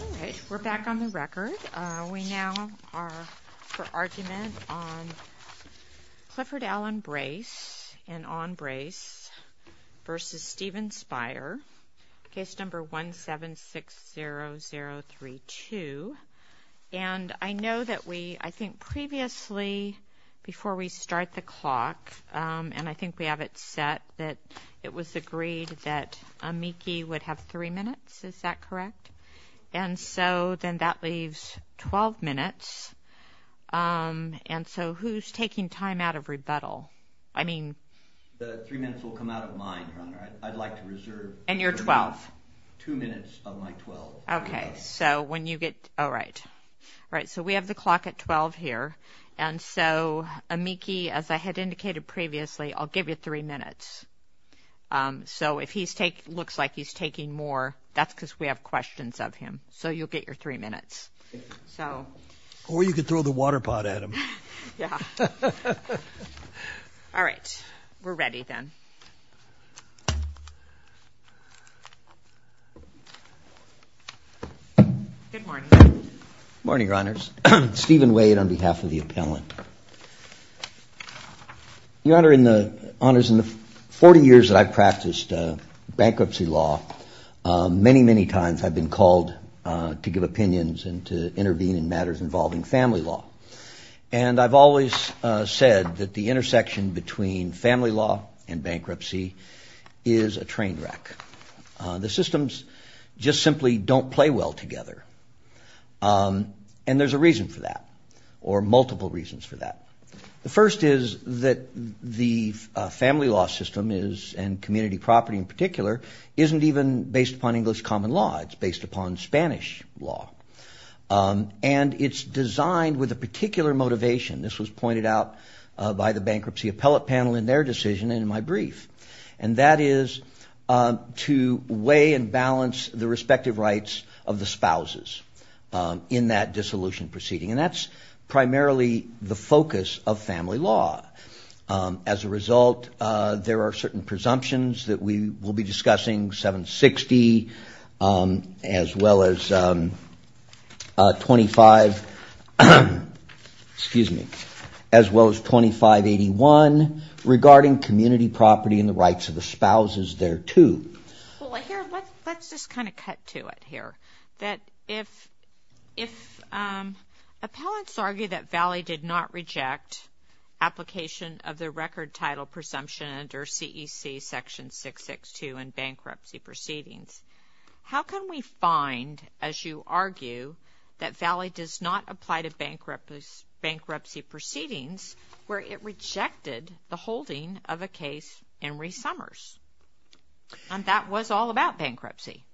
Alright, we're back on the record. We now are for argument on Clifford Alan Brace and Ahn Brace v. Steven Speier, case number 1760032. And I know that we, I think previously, before we start the clock, and I think we have it set, that it was agreed that Amiki would have three minutes, is that correct? And so then that leaves 12 minutes. And so who's taking time out of rebuttal? I mean, The three minutes will come out of mine, Your Honor. I'd like to reserve And you're 12? Two minutes of my 12. Okay, so when you get, alright. Alright, so we have the clock at 12 here. And so Amiki, as I had indicated previously, I'll give you three minutes. So if he's taking, looks like he's taking more, that's because we have questions of him. So you'll get your three minutes. Or you could throw the water pot at him. Yeah. Alright, we're ready then. Good morning, Your Honors. Stephen Wade on behalf of the appellant. Your Honor, in the 40 years that I've practiced bankruptcy law, many, many times I've been called to give opinions and to intervene in matters involving family law. And I've always said that the intersection between family law and bankruptcy is a train wreck. The systems just simply don't play well together. And there's a reason for that, or multiple reasons for that. The first is that the family law system is, and community property in particular, isn't even based upon English common law. It's based upon Spanish law. And it's designed with a particular motivation. This was pointed out by the bankruptcy appellate panel in their decision in my brief. And that is to weigh and balance the respective rights of the spouses in that dissolution proceeding. And that's primarily the focus of family law. As a result, there are certain presumptions that we will be discussing, 760, as well as 25, excuse me, as well as 2581, regarding community property and the rights of the spouses thereto. Well, here, let's just kind of cut to it here. That if, if appellants argue that Valley did not reject application of the record title presumption under CEC section 662 in bankruptcy proceedings, how can we find, as you argue, that Valley does not apply to bankruptcy proceedings where it rejected the holding of a case in re-summers? And that was all about bankruptcy.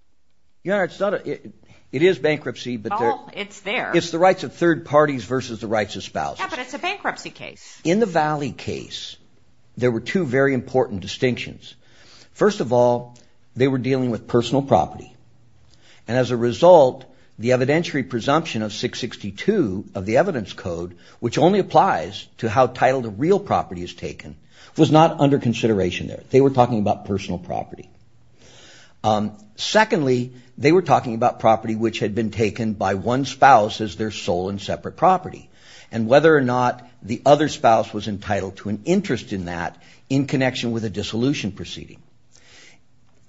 Your Honor, it's not a, it is bankruptcy, but it's the rights of third parties versus the rights of spouses. Yeah, but it's a bankruptcy case. In the Valley case, there were two very important distinctions. First of all, they were dealing with personal property. And as a result, the how title to real property is taken was not under consideration there. They were talking about personal property. Secondly, they were talking about property which had been taken by one spouse as their sole and separate property, and whether or not the other spouse was entitled to an interest in that in connection with a dissolution proceeding.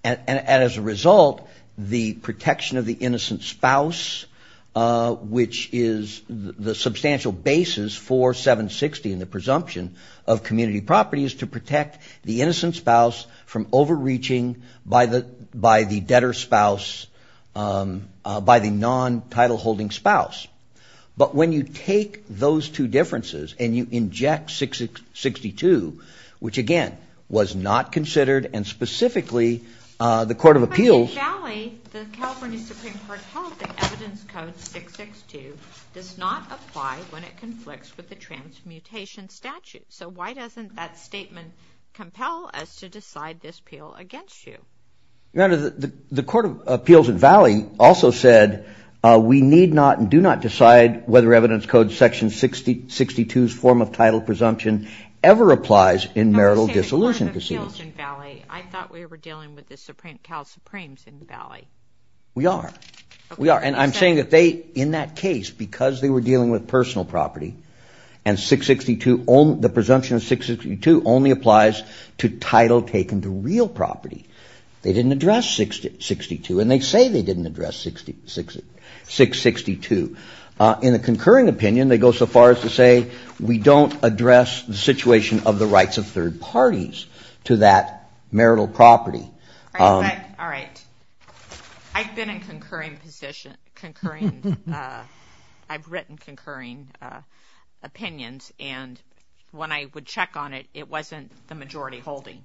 And as a result, the protection of the presumption of community property is to protect the innocent spouse from overreaching by the debtor spouse, by the non-title holding spouse. But when you take those two differences and you So why doesn't that statement compel us to decide this appeal against you? Your Honor, the Court of Appeals in Valley also said we need not and do not decide whether evidence code section 6062's form of title presumption ever applies in marital dissolution proceedings. I thought we were dealing with the Supreme, Cal Supremes in the Valley. We are. We are. And I'm saying that they, in that the presumption of 662 only applies to title taken to real property. They didn't address 662, and they say they didn't address 662. In a concurring opinion, they go so far as to say we don't address the situation of the rights of third parties to that marital property. All right. I've been in when I would check on it, it wasn't the majority holding.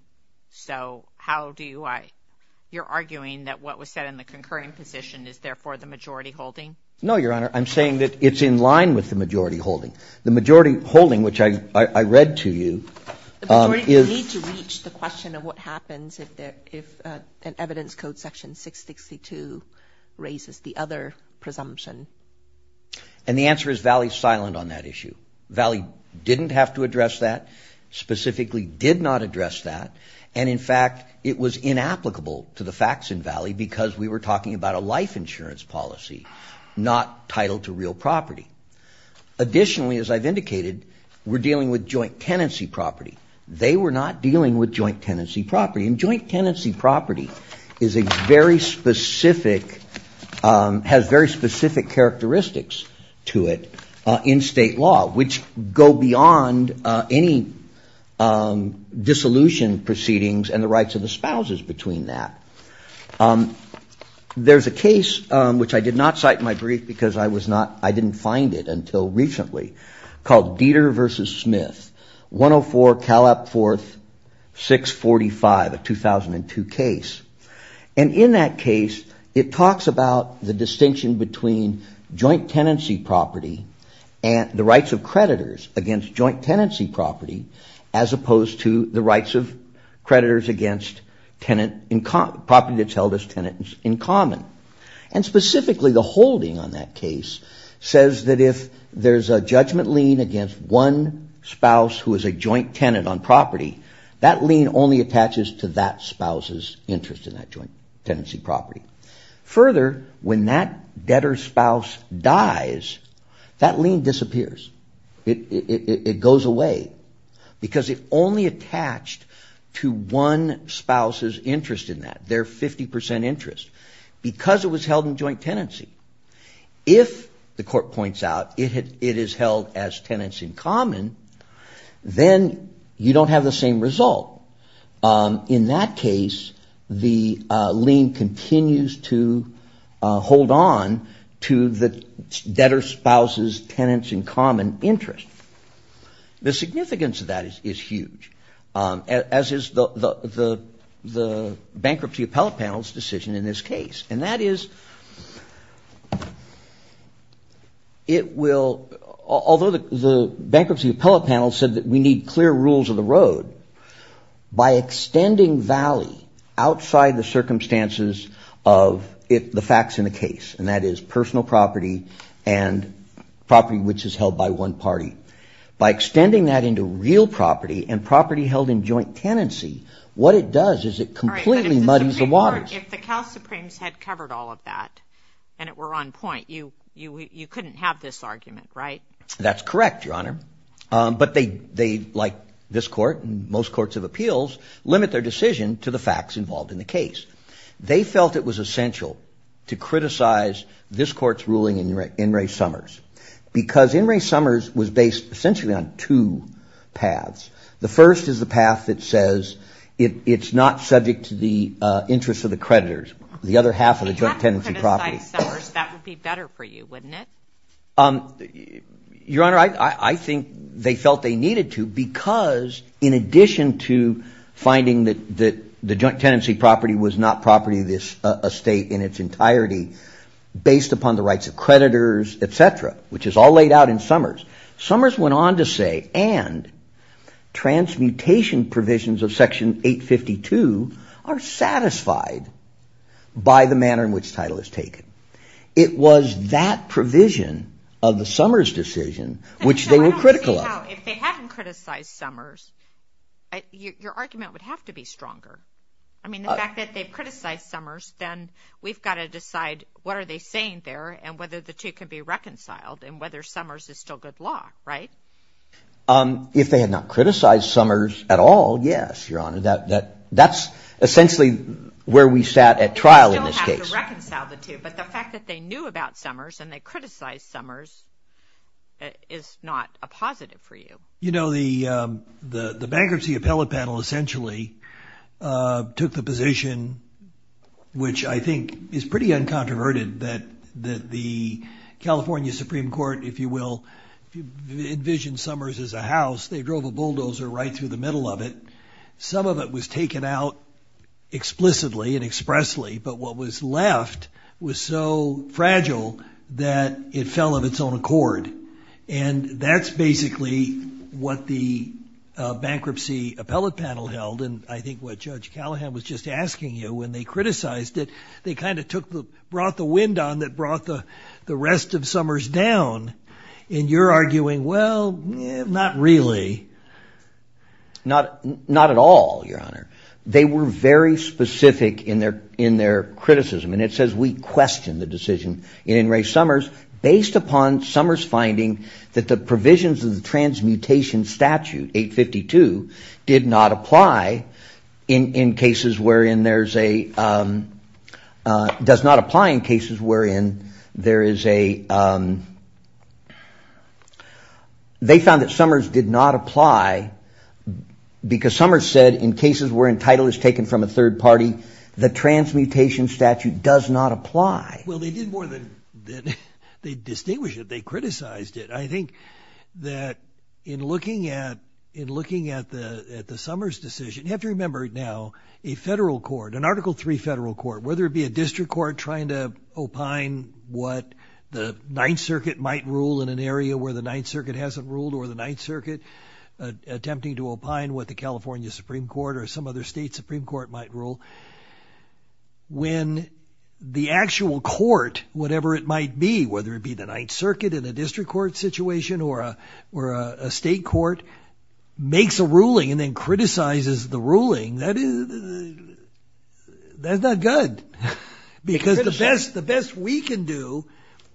So how do you, you're arguing that what was said in the concurring position is therefore the majority holding? No, Your Honor. I'm saying that it's in line with the majority holding. The majority holding, which I read to you. The majority need to reach the question of what happens if an evidence code section 662 raises the other presumption. And the answer is Valley's silent on that issue. Valley didn't have to address that, specifically did not address that. And in fact, it was inapplicable to the facts in Valley because we were talking about a life insurance policy, not title to real property. Additionally, as I've indicated, we're dealing with joint tenancy property. They were not dealing with joint tenancy property. And joint tenancy property is a very specific, has very specific characteristics to it in state law, which go beyond any dissolution proceedings and the rights of the spouses between that. There's a case, which I did not cite in my brief because I was not, I didn't find it until recently, called Dieter versus Smith, 104 Calap 4th 645, a 2002 case. And in that case, it talks about the distinction between joint tenancy property and the rights of creditors against joint tenancy property, as opposed to the rights of creditors against property that's a judgment lien against one spouse who is a joint tenant on property. That lien only attaches to that spouse's interest in that joint tenancy property. Further, when that debtor spouse dies, that lien disappears. It goes away because it only attached to one spouse's interest in that, their 50% interest, because it was held in joint tenancy. If, the court points out, it is held as tenants in common, then you don't have the same result. In that case, the lien continues to hold on to the debtor spouse's tenants in common interest. The significance of that is huge. As is the bankruptcy appellate panel's decision in this case. And that is, it will, although the bankruptcy appellate panel said that we need clear rules of the road, by extending valley outside the circumstances of the facts in the case, and that is personal property and property which is held by one party. By extending that into real property and property held in joint tenancy, what it does is it completely muddies the waters. If the Cal Supremes had covered all of that, and it were on point, you couldn't have this argument, right? That's correct, your honor. But they, like this court and most courts of appeals, limit their decision to the facts involved in the case. They felt it was essential to criticize this court's ruling in Ray Summers. Because in Ray Summers was based essentially on two paths. The first is the path that says it's not subject to the interest of the creditors, the other half of the joint tenancy property. If you had to criticize Summers, that would be better for you, wouldn't it? Your honor, I think they felt they needed to because in addition to finding that the joint tenancy property was not property of this estate in its entirety, based upon the rights of creditors, etc., which is all laid out in Summers, Summers went on to say, and transmutation provisions of section 852 are satisfied by the manner in which title is taken. It was that provision of the Summers decision which they were critical of. If they hadn't criticized Summers, your argument would have to be stronger. The fact that they criticized Summers, then we've got to decide what are they saying there and whether the two can be reconciled and whether Summers is still good law, right? If they had not criticized Summers at all, yes, your honor. That's essentially where we sat at trial in this case. You don't have to reconcile the two, but the fact that they knew about Summers and they criticized Summers is not a positive for you. You know, the bankruptcy appellate panel essentially took the position, which I think is pretty uncontroverted, that the California Supreme Court, if you will, envisioned Summers as a house. They drove a bulldozer right through the middle of it. Some of it was taken out explicitly and expressly, but what was left was so fragile that it fell of its own accord. And that's basically what the bankruptcy appellate panel held. And I think what Judge Callahan was just asking you when they criticized it, they kind of brought the wind on that brought the rest of Summers down. And you're arguing, well, not really. Not at all, your honor. They were very specific in their Summers, based upon Summers finding that the provisions of the transmutation statute 852 did not apply in cases wherein there's a does not apply in cases wherein there is a they found that Summers did not apply because Summers said in cases where entitlement is taken from a third party, the transmutation statute does not apply. Well, they did more than they distinguish it. They criticized it. I think that in looking at the Summers decision, you have to remember now, a federal court, an article three federal court, whether it be a district court trying to opine what the Ninth Circuit might rule in an area where the Ninth Circuit hasn't ruled or the Ninth Circuit attempting to opine what the California Supreme Court or some other state Supreme Court might rule. When the actual court, whatever it might be, whether it be the Ninth Circuit in a district court situation or a state court, makes a ruling and then criticizes the ruling, that is that's not good. Because the best the best we can do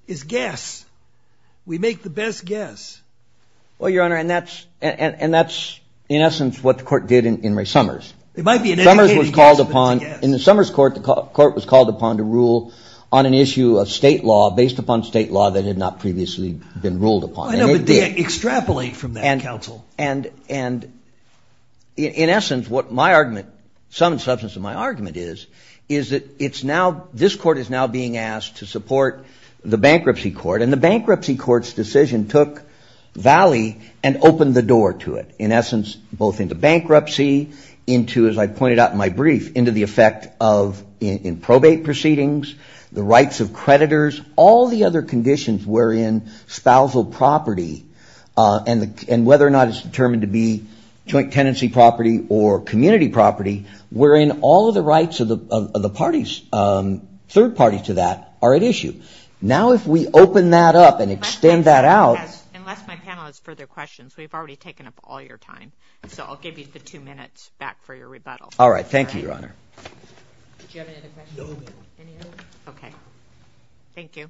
is guess. We make the best guess. Well, Your Honor, and that's and that's in essence what the court did in Summers. It might be an educated guess, but it's a guess. In the Summers court, the court was called upon to rule on an issue of state law based upon state law that had not previously been ruled upon. I know, but they extrapolate from that, counsel. And in essence, what my argument, some substance of my argument is, is that it's now this court is now being asked to support the bankruptcy court. And the bankruptcy court's decision took valley and opened the door to it, in essence, both into bankruptcy, into, as I pointed out in my brief, into the effect of in probate proceedings, the rights of creditors, all the other conditions wherein spousal property and whether or not it's determined to be joint tenancy property or community property, wherein all of the rights of the party's third party to that are at issue. Now, if we open that up and extend that out. Unless my panel has further questions, we've already taken up all your time. So I'll give you the two minutes back for your rebuttal. All right. Thank you, Your Honor. Do you have any other questions? No, ma'am. Any other? Okay. Thank you.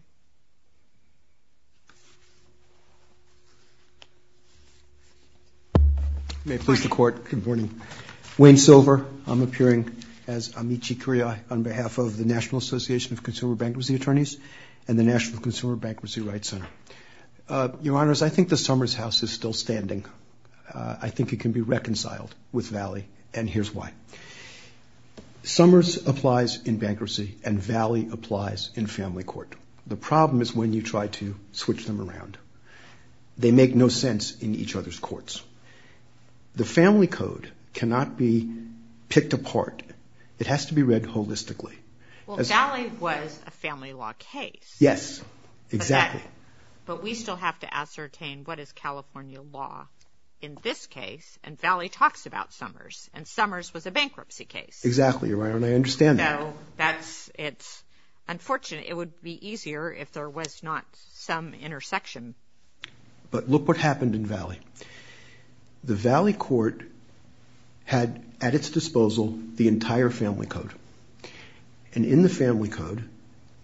May it please the court. Good morning. Wayne Silver. I'm appearing as Amici Curia on behalf of the National Association of Consumer Bankruptcy Attorneys and the National Consumer Bankruptcy Rights Center. Your Honors, I think the Summers House is still standing. I think it can be reconciled with valley. And here's why. Summers applies in bankruptcy and valley applies in family court. The problem is when you try to switch them around. They make no sense in each other's courts. The family code cannot be picked apart. It has to be read holistically. Well, valley was a family law case. Yes, exactly. But we still have to ascertain what is California law in this case. And valley talks about Summers. And Summers was a bankruptcy case. Exactly, Your Honor. And I understand that. No, it's unfortunate. It would be easier if there was not some intersection. But look what happened in valley. The valley court had at its disposal the entire family code. And in the family code,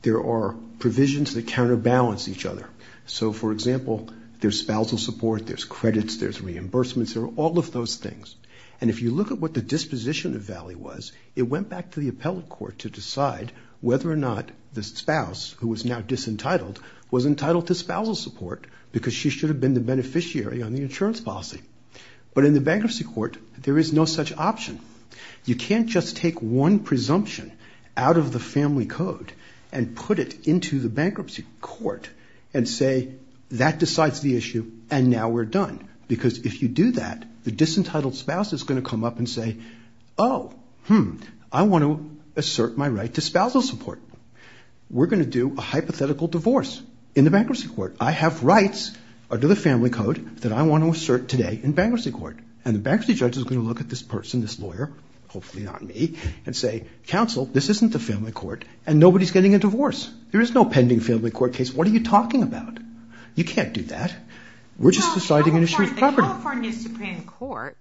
there are provisions that counterbalance each other. So, for example, there's spousal support, there's credits, there's reimbursements. There are all of those things. And if you look at what the disposition of valley was, it went back to the appellate court to decide whether or not the spouse, who is now disentitled, was entitled to spousal support because she should have been the beneficiary on the insurance policy. But in the bankruptcy court, there is no such option. You can't just take one presumption out of the family code and put it into the bankruptcy court and say, that decides the issue and now we're done. Because if you do that, the disentitled spouse is going to come up and say, oh, hmm, I want to assert my right to spousal support. We're going to do a hypothetical divorce in the bankruptcy court. I have rights under the family code that I want to assert today in bankruptcy court. And the bankruptcy judge is going to look at this person, this lawyer, hopefully not me, and say, counsel, this isn't the family court and nobody's getting a divorce. There is no pending family court case. What are you talking about? You can't do that. We're just deciding an issue of property. The California Supreme Court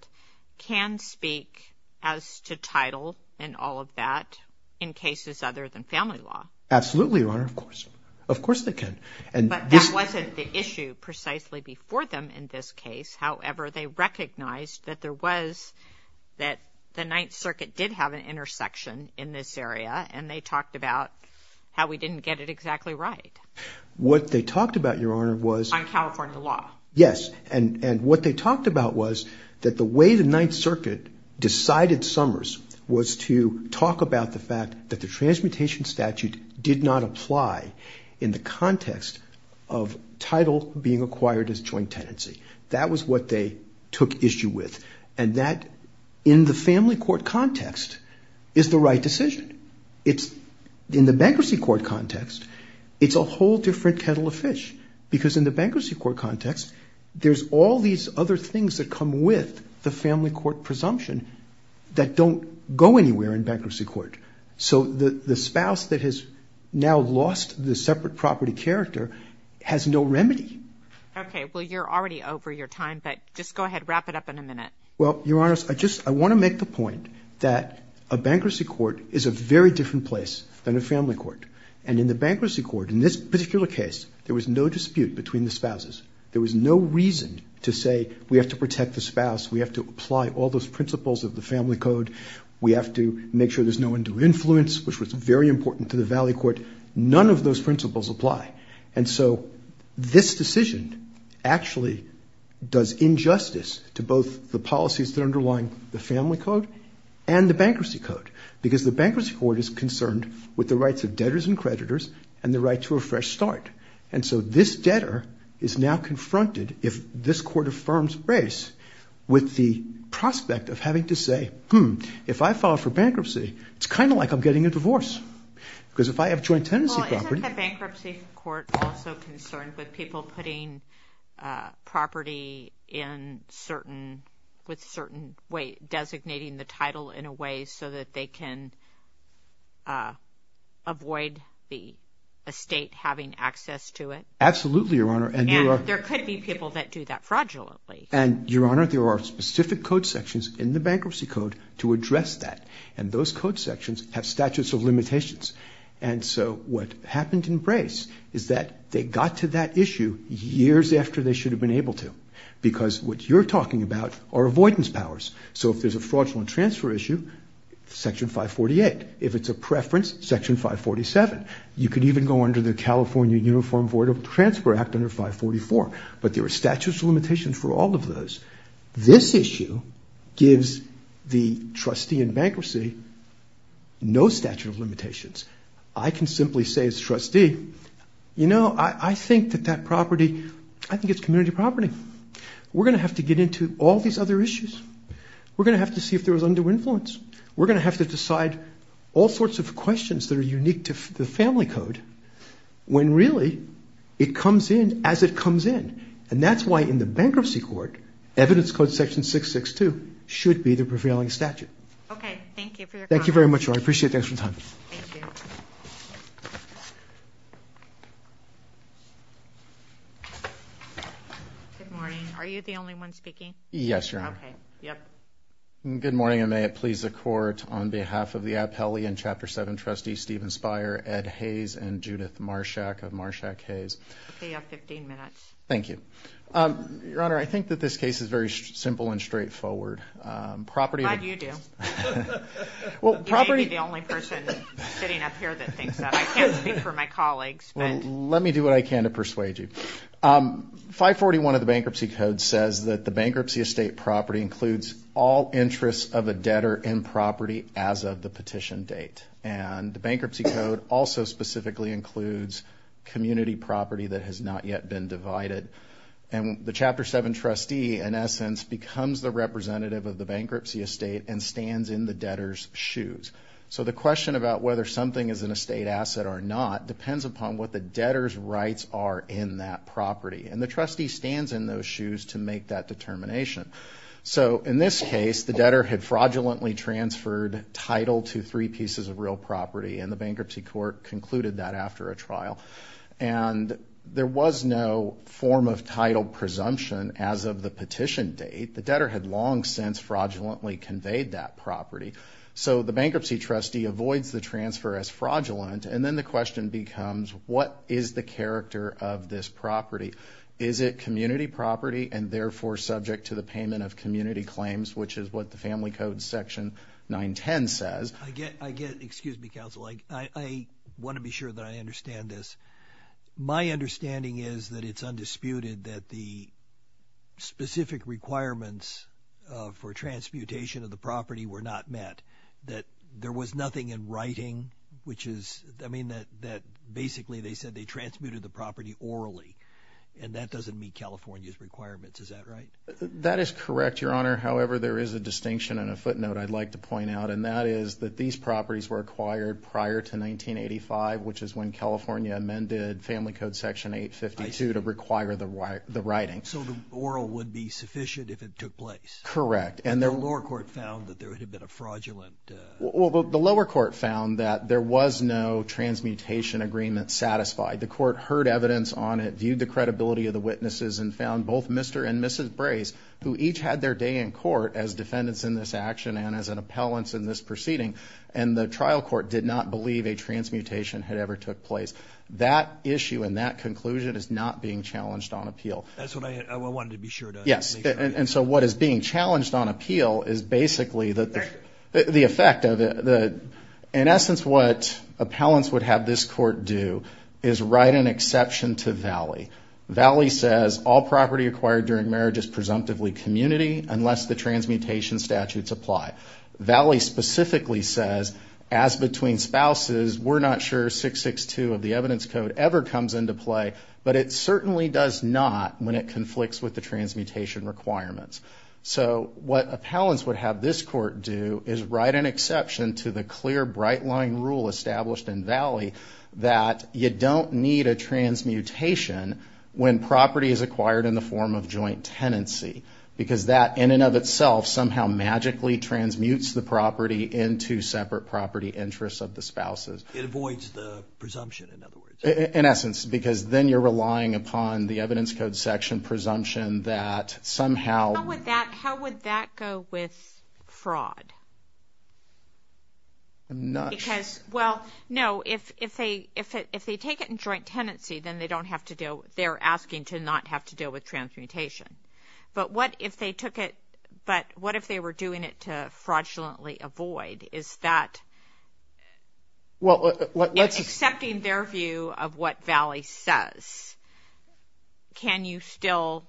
can speak as to title and all of that in cases other than family law. Absolutely, Your Honor, of course. Of course they can. But that wasn't the issue precisely before them in this case. However, they recognized that there was, that the Ninth Circuit did have an intersection in this area, and they talked about how we didn't get it exactly right. What they talked about, Your Honor, was... On California law. Yes, and what they talked about was that the way the Ninth Circuit decided Summers was to talk about the fact that the transmutation statute did not apply in the context of title being acquired as joint tenancy. That was what they took issue with. And that, in the family court context, is the right decision. In the bankruptcy court context, it's a whole different kettle of fish. Because in the bankruptcy court context, there's all these other things that come with the family court presumption that don't go anywhere in bankruptcy court. So the spouse that has now lost the separate property character has no remedy. Okay, well, you're already over your time. But just go ahead, wrap it up in a minute. Well, Your Honor, I want to make the point that a bankruptcy court is a very different place than a family court. And in the bankruptcy court, in this particular case, there was no dispute between the spouses. There was no reason to say, we have to protect the spouse. We have to apply all those principles of the family code. We have to make sure there's no undue influence, which was very important to the valley court. None of those principles apply. And so this decision actually does injustice to both the policies that are underlying the family code and the bankruptcy code. Because the bankruptcy court is concerned with the rights of debtors and creditors and the right to a fresh start. And so this debtor is now confronted, if this court affirms race, with the prospect of having to say, hmm, if I file for bankruptcy, it's kind of like I'm getting a divorce. Because if I have joint tenancy property- Well, isn't the bankruptcy court also concerned with people putting property in certain, with certain way, designating the title in a way so that they can avoid the estate having access to it? Absolutely, Your Honor. And there could be people that do that fraudulently. And Your Honor, there are specific code sections in the bankruptcy code to address that. And those code sections have statutes of limitations. And so what happened in Brace is that they got to that issue years after they should have been able to. Because what you're talking about are avoidance powers. So if there's a fraudulent transfer issue, section 548. If it's a preference, section 547. You could even go under the California Uniform Voidable Transfer Act under 544. But there are statutes of limitations for all of those. This issue gives the trustee in bankruptcy no statute of limitations. I can simply say as trustee, you know, I think that that property, I think it's community property. We're going to have to get into all these other issues. We're going to have to see if there was undue influence. We're going to have to decide all sorts of questions that are unique to the family code when really it comes in as it comes in. And that's why in the bankruptcy court, evidence code section 662 should be the prevailing statute. Okay, thank you for your comment. Thank you very much. I appreciate it. Thanks for your time. Thank you. Good morning. Are you the only one speaking? Yes, Your Honor. Okay, yep. Good morning, and may it please the court, on behalf of the Appellee and Chapter 7 trustee Stephen Speier, Ed Hayes, and Judith Marshak of Marshak Hayes. Okay, you have 15 minutes. Thank you. Your Honor, I think that this case is very simple and straightforward. Property... Glad you do. Well, property... You may be the only person sitting up here that thinks that. I can't speak for my colleagues, but... Let me do what I can to persuade you. 541 of the bankruptcy code says that the bankruptcy estate property includes all interests of a debtor in property as of the petition date. And the bankruptcy code also specifically includes community property that has not yet been divided. And the Chapter 7 trustee, in essence, becomes the representative of the bankruptcy estate and stands in the debtor's shoes. So the question about whether something is an estate asset or not depends upon what the debtor's rights are in that property. And the trustee stands in those shoes to make that determination. So in this case, the debtor had fraudulently transferred title to three pieces of real property and the bankruptcy court concluded that after a trial. And there was no form of title presumption as of the petition date. The debtor had long since fraudulently conveyed that property. So the bankruptcy trustee avoids the transfer as fraudulent. And then the question becomes, what is the character of this property? Is it community property and therefore subject to the payment of community claims, which is what the family code section 910 says? I get, I get, excuse me, counsel, I, I want to be sure that I understand this. My understanding is that it's undisputed that the specific requirements for transmutation of the property were not met. That there was nothing in writing, which is, I mean, that, that basically they said they transmuted the property orally and that doesn't meet California's requirements. Is that right? That is correct, your honor. However, there is a distinction and a footnote I'd like to point out. And that is that these properties were acquired prior to 1985, which is when California amended family code section 852 to require the writing. So the oral would be sufficient if it took place. Correct. And the lower court found that there had been a fraudulent. Well, the lower court found that there was no transmutation agreement satisfied. The court heard evidence on it, viewed the credibility of the witnesses and found both Mr. And Mrs. Brace, who each had their day in court as defendants in this action and as an appellants in this proceeding. And the trial court did not believe a transmutation had ever took place. That issue and that conclusion is not being challenged on appeal. That's what I wanted to be sure. Yes. And so what is being challenged on appeal is basically the effect of it. In essence, what appellants would have this court do is write an exception to Valley. Valley says all property acquired during marriage is presumptively community unless the transmutation statutes apply. Valley specifically says as between spouses, we're not sure 662 of the evidence code ever comes into play, but it certainly does not when it conflicts with the transmutation requirements. So what appellants would have this court do is write an exception to the clear bright line rule established in Valley that you don't need a transmutation when property is acquired in the form of joint tenancy, because that in and of itself somehow magically transmutes the property into separate property interests of the spouses. It avoids the presumption, in other words. In essence, because then you're relying upon the evidence code section presumption that somehow. How would that go with fraud? Because, well, no, if they take it in joint tenancy, then they don't have to deal, they're asking to not have to deal with transmutation. But what if they took it, but what if they were doing it to fraudulently avoid? Is that. Well, let's. Accepting their view of what Valley says. Can you still,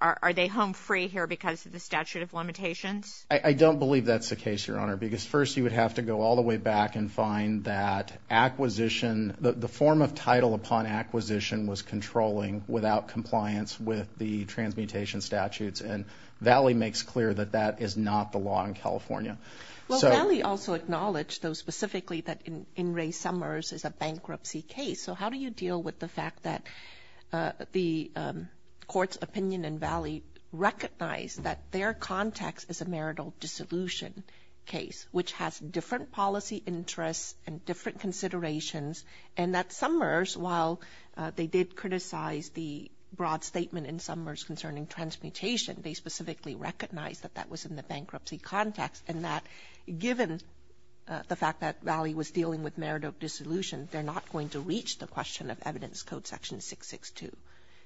are they home free here because of the statute of limitations? I don't believe that's the case, Your Honor, because first you would have to go all the way back and find that acquisition, the form of title upon acquisition was controlling without compliance with the transmutation statutes, and Valley makes clear that that is not the law in California. Valley also acknowledged those specifically that in Ray Summers is a bankruptcy case. So how do you deal with the fact that the court's opinion and Valley recognize that their context is a marital dissolution case, which has different policy interests and different considerations, and that Summers, while they did criticize the broad statement in Summers concerning transmutation, they specifically recognize that that was in the given the fact that Valley was dealing with marital dissolution, they're not going to reach the question of evidence code section 662.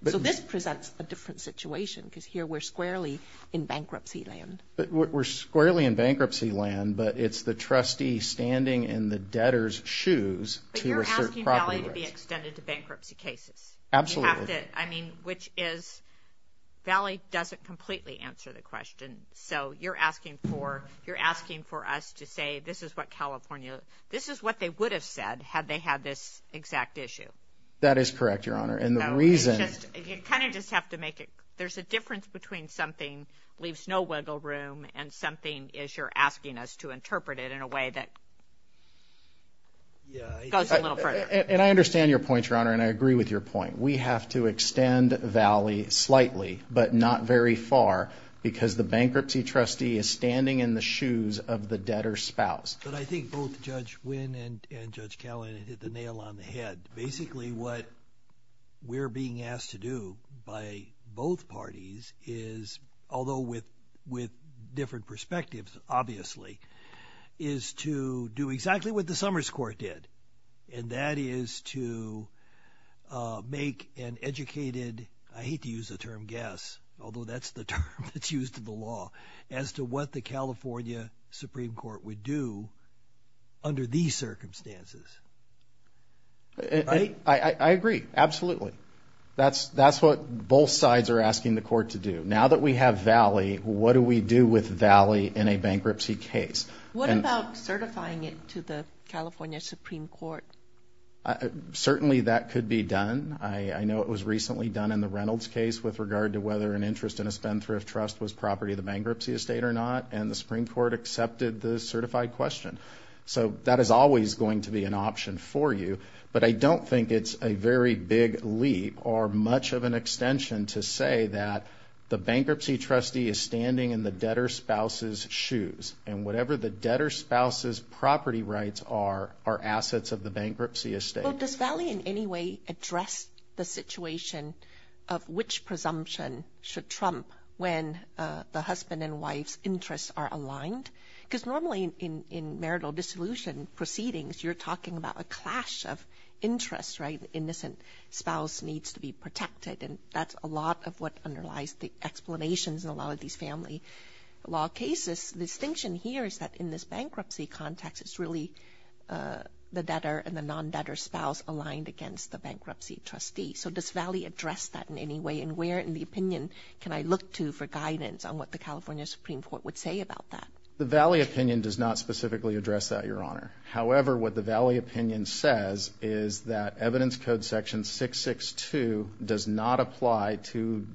But this presents a different situation because here we're squarely in bankruptcy land. But we're squarely in bankruptcy land, but it's the trustee standing in the debtor's shoes to assert property rights. But you're asking Valley to be extended to bankruptcy cases. Absolutely. I mean, which is Valley doesn't completely answer the question. So you're asking for you're asking for us to say this is what California this is what they would have said had they had this exact issue. That is correct, Your Honor. And the reason you kind of just have to make it. There's a difference between something leaves no wiggle room and something is you're asking us to interpret it in a way that goes a little further. And I understand your point, Your Honor, and I agree with your point. We have to extend Valley slightly, but not very far because the bankruptcy trustee is standing in the shoes of the debtor's spouse. But I think both Judge Wynn and Judge Cowan hit the nail on the head. Basically, what we're being asked to do by both parties is, although with different perspectives, obviously, is to do exactly what the Summers Court did. And that is to make an educated, I hate to use the term guess, although that's the term that's used in the law as to what the California Supreme Court would do under these circumstances. I agree. Absolutely. That's what both sides are asking the court to do. Now that we have Valley, what do we do with Valley in a bankruptcy case? What about certifying it to the California Supreme Court? Certainly, that could be done. I know it was recently done in the Reynolds case with regard to whether an interest in a spendthrift trust was property of the bankruptcy estate or not. And the Supreme Court accepted the certified question. So that is always going to be an option for you. But I don't think it's a very big leap or much of an extension to say that the bankruptcy debtor spouse's property rights are assets of the bankruptcy estate. Does Valley in any way address the situation of which presumption should trump when the husband and wife's interests are aligned? Because normally in marital dissolution proceedings, you're talking about a clash of interests, right? Innocent spouse needs to be protected. And that's a lot of what underlies the explanations in a lot of these family law cases. Distinction here is that in this bankruptcy context, it's really the debtor and the non-debtor spouse aligned against the bankruptcy trustee. So does Valley address that in any way? And where in the opinion can I look to for guidance on what the California Supreme Court would say about that? The Valley opinion does not specifically address that, Your Honor. However, what the Valley opinion says is that evidence code section 662 does not apply to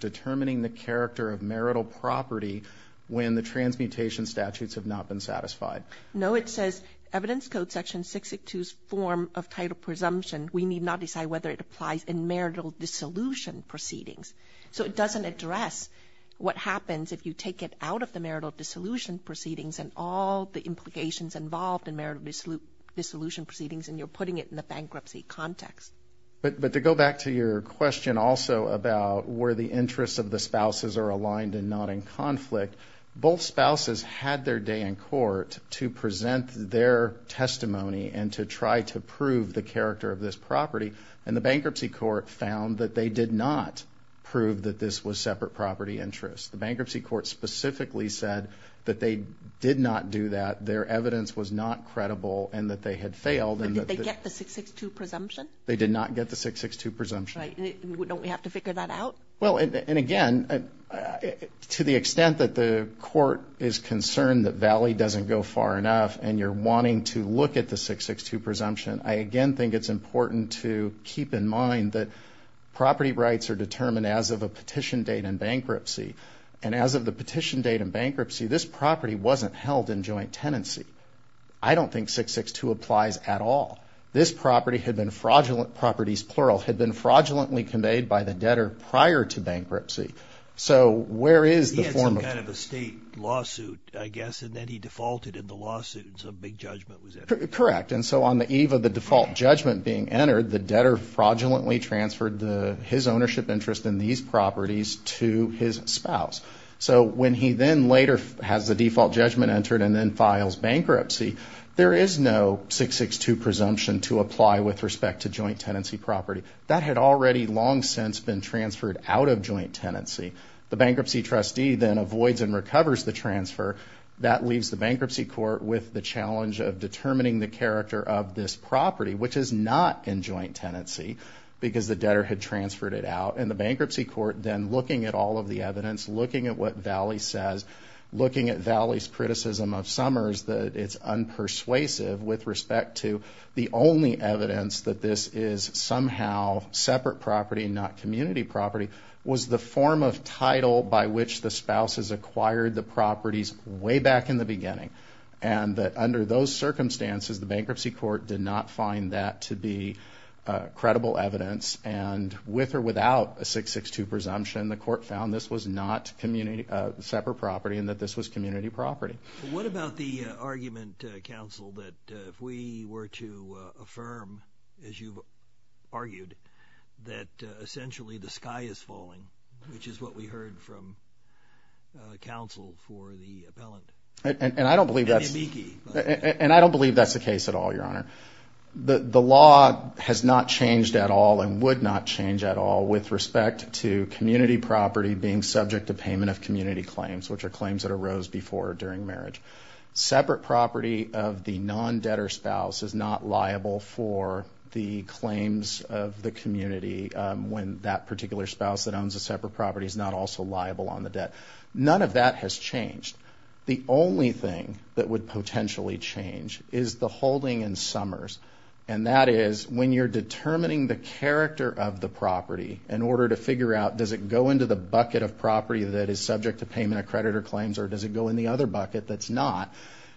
satisfied. No, it says evidence code section 662's form of title presumption. We need not decide whether it applies in marital dissolution proceedings. So it doesn't address what happens if you take it out of the marital dissolution proceedings and all the implications involved in marital dissolution proceedings and you're putting it in the bankruptcy context. But to go back to your question also about where the interests of the spouses are aligned and not in conflict, both spouses had their day in court to present their testimony and to try to prove the character of this property. And the bankruptcy court found that they did not prove that this was separate property interest. The bankruptcy court specifically said that they did not do that. Their evidence was not credible and that they had failed. But did they get the 662 presumption? They did not get the 662 presumption. Right. Don't we have to figure that out? Well, and again, to the extent that the court is concerned that Valley doesn't go far enough and you're wanting to look at the 662 presumption, I again think it's important to keep in mind that property rights are determined as of a petition date in bankruptcy. And as of the petition date in bankruptcy, this property wasn't held in joint tenancy. I don't think 662 applies at all. This property had been fraudulent properties, plural, had been fraudulently conveyed by the debtor prior to bankruptcy. So where is the form of a state lawsuit? I guess. And then he defaulted in the lawsuit. So big judgment was correct. And so on the eve of the default judgment being entered, the debtor fraudulently transferred the his ownership interest in these properties to his spouse. So when he then later has the default judgment entered and then files bankruptcy, there is no 662 presumption to apply with respect to joint tenancy property that had already long since been transferred out of joint tenancy. The bankruptcy trustee then avoids and recovers the transfer that leaves the bankruptcy court with the challenge of determining the character of this property, which is not in joint tenancy because the debtor had transferred it out in the bankruptcy court. Then looking at all of the evidence, looking at what Valley says, looking at Valley's criticism of Summers that it's unpersuasive with respect to the only evidence that this is somehow separate property, not community property, was the form of title by which the spouses acquired the properties way back in the beginning. And that under those circumstances, the bankruptcy court did not find that to be credible evidence. And with or without a 662 presumption, the court found this was not separate property and that this was community property. What about the argument, counsel, that if we were to affirm, as you've argued, that essentially the sky is falling, which is what we heard from counsel for the appellant? And I don't believe that's the case at all, Your Honor. The law has not changed at all and would not change at all with respect to community property being subject to payment of community claims, which are claims that arose before or during marriage. Separate property of the non-debtor spouse is not liable for the claims of the community when that particular spouse that owns a separate property is not also liable on the debt. None of that has changed. The only thing that would potentially change is the holding in Summers. And that is when you're determining the character of the property in order to figure out does it go into the bucket of property that is subject to payment of creditor claims or does it go in the other bucket that's not,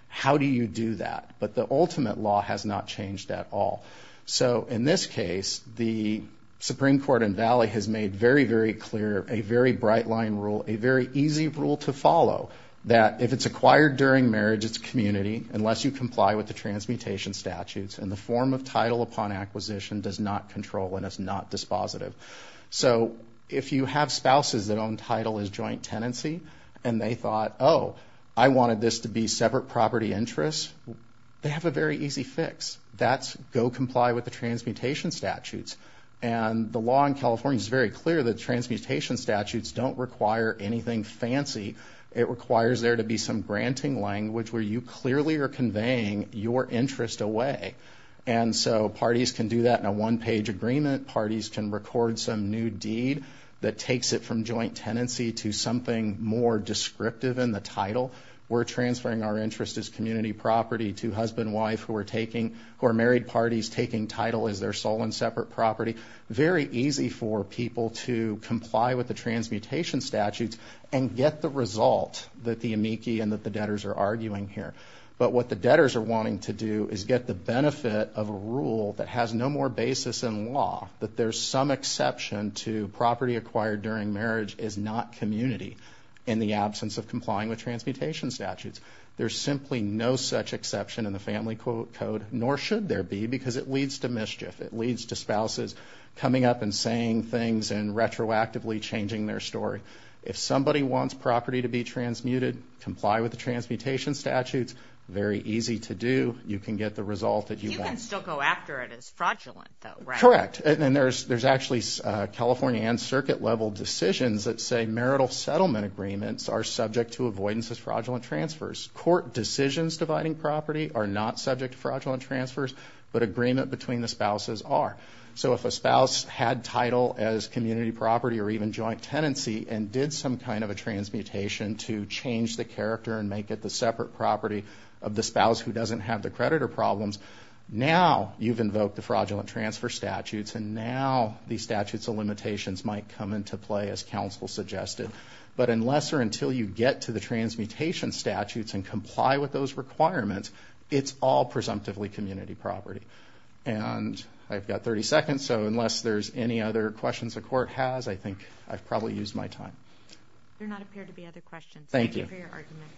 how do you do that? But the ultimate law has not changed at all. So in this case, the Supreme Court in Valley has made very, very clear a very bright line rule, a very easy rule to follow, that if it's acquired during marriage, it's community unless you comply with the transmutation statutes. And the form of title upon acquisition does not control and is not dispositive. So if you have spouses that own title as joint tenancy and they thought, oh, I wanted this to be separate property interest, they have a very easy fix. That's go comply with the transmutation statutes. And the law in California is very clear that transmutation statutes don't require anything fancy. It requires there to be some granting language where you clearly are conveying your interest away. And so parties can do that in a one-page agreement. Parties can record some new deed that takes it from joint tenancy to something more descriptive in the title. We're transferring our interest as community property to husband and wife who are married parties taking title as their sole and separate property. Very easy for people to comply with the transmutation statutes and get the result that the amici and that the debtors are arguing here. But what the debtors are wanting to do is get the benefit of a rule that has no more basis in law that there's some exception to property acquired during marriage is not community in the absence of complying with transmutation statutes. There's simply no such exception in the Family Code, nor should there be, because it leads to mischief. It leads to spouses coming up and saying things and retroactively changing their story. If somebody wants property to be transmuted, comply with the transmutation statutes. Very easy to do. You can get the result that you want. You still go after it as fraudulent, though, right? Correct, and there's actually California and circuit level decisions that say marital settlement agreements are subject to avoidance as fraudulent transfers. Court decisions dividing property are not subject to fraudulent transfers, but agreement between the spouses are. So if a spouse had title as community property or even joint tenancy and did some kind of a transmutation to change the character and make it the separate property of the spouse who doesn't have the creditor problems, now you've invoked the fraudulent transfer statutes and now these statutes of limitations might come into play as counsel suggested. But unless or until you get to the transmutation statutes and comply with those requirements, it's all presumptively community property. And I've got 30 seconds, so unless there's any other questions the Court has, I think I've probably used my time. There do not appear to be other questions. Thank you for your argument.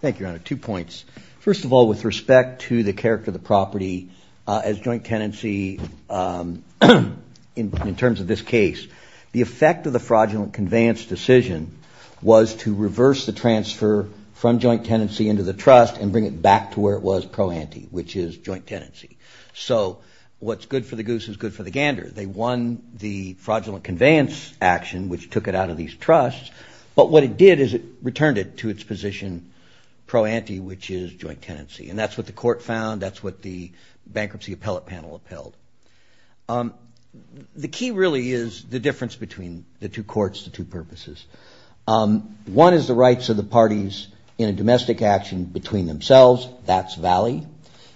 Thank you, Your Honor. Two points. First of all, with respect to the character of the property as joint tenancy in terms of this case, the effect of the fraudulent conveyance decision was to reverse the transfer from joint tenancy into the trust and bring it back to where it was pro ante, which is joint tenancy. So what's good for the goose is good for the gander. They won the fraudulent conveyance action, which took it out of these trusts, but what it did is it returned it to its position pro ante, which is joint tenancy. And that's what the Court found. That's what the bankruptcy appellate panel appealed. The key really is the difference between the two courts, the two purposes. One is the rights of the parties in a domestic action between themselves. That's Valley.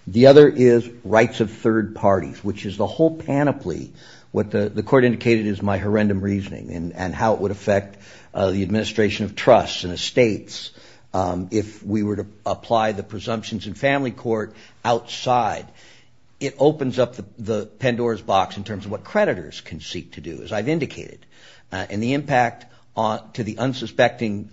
The other is rights of third parties, which is the whole panoply. What the Court indicated is my horrendous reasoning and how it would affect the administration of trusts and estates if we were to apply the presumptions in family court outside. It opens up the Pandora's box in terms of what creditors can seek to do, as I've indicated. And the impact to the unsuspecting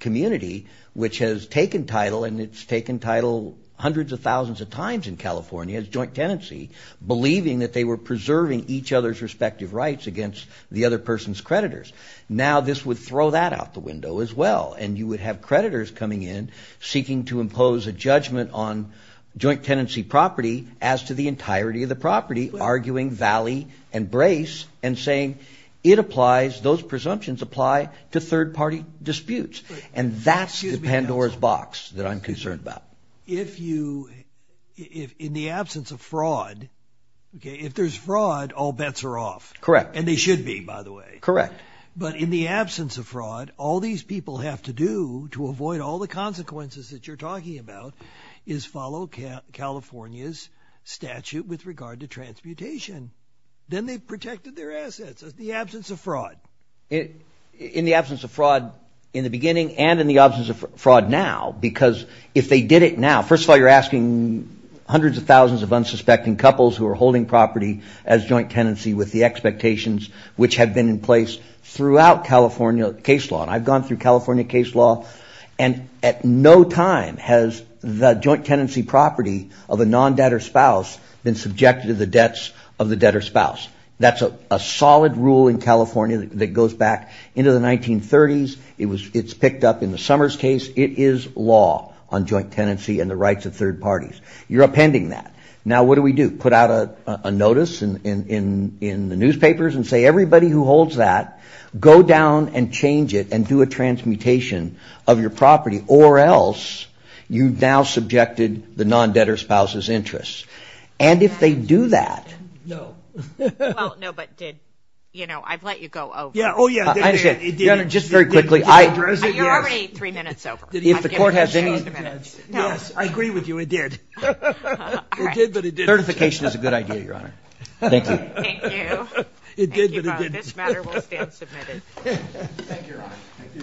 community, which has taken title, and it's taken title hundreds of thousands of times in California as joint tenancy, believing that they were preserving each other's respective rights against the other person's creditors. Now this would throw that out the window as well. And you would have creditors coming in seeking to impose a judgment on joint tenancy property as to the entirety of the property, arguing Valley and Brace and saying those presumptions apply to third party disputes. And that's the Pandora's box that I'm concerned about. If you if in the absence of fraud, if there's fraud, all bets are off. Correct. And they should be, by the way. Correct. But in the absence of fraud, all these people have to do to avoid all the consequences that you're talking about is follow California's statute with regard to transmutation. Then they've protected their assets in the absence of fraud. In the absence of fraud in the beginning and in the absence of fraud now, because if they did it now, first of all, you're asking hundreds of thousands of unsuspecting couples who are holding property as joint tenancy with the expectations which have been in place throughout California case law. And I've gone through California case law. And at no time has the joint tenancy property of a non-debtor spouse been subjected to the debts of the debtor spouse. That's a solid rule in California that goes back into the 1930s. It's picked up in the Summers case. It is law on joint tenancy and the rights of third parties. You're appending that. Now, what do we do? Put out a notice in the newspapers and say, everybody who holds that, go down and change it and do a transmutation of your property or else you've now subjected the non-debtor spouse's interests. And if they do that. No. Well, no, but did, you know, I've let you go over. Yeah. Oh, yeah. I understand. Your Honor, just very quickly. You're already three minutes over. If the court has any. Yes, I agree with you. It did. Certification is a good idea, Your Honor. Thank you.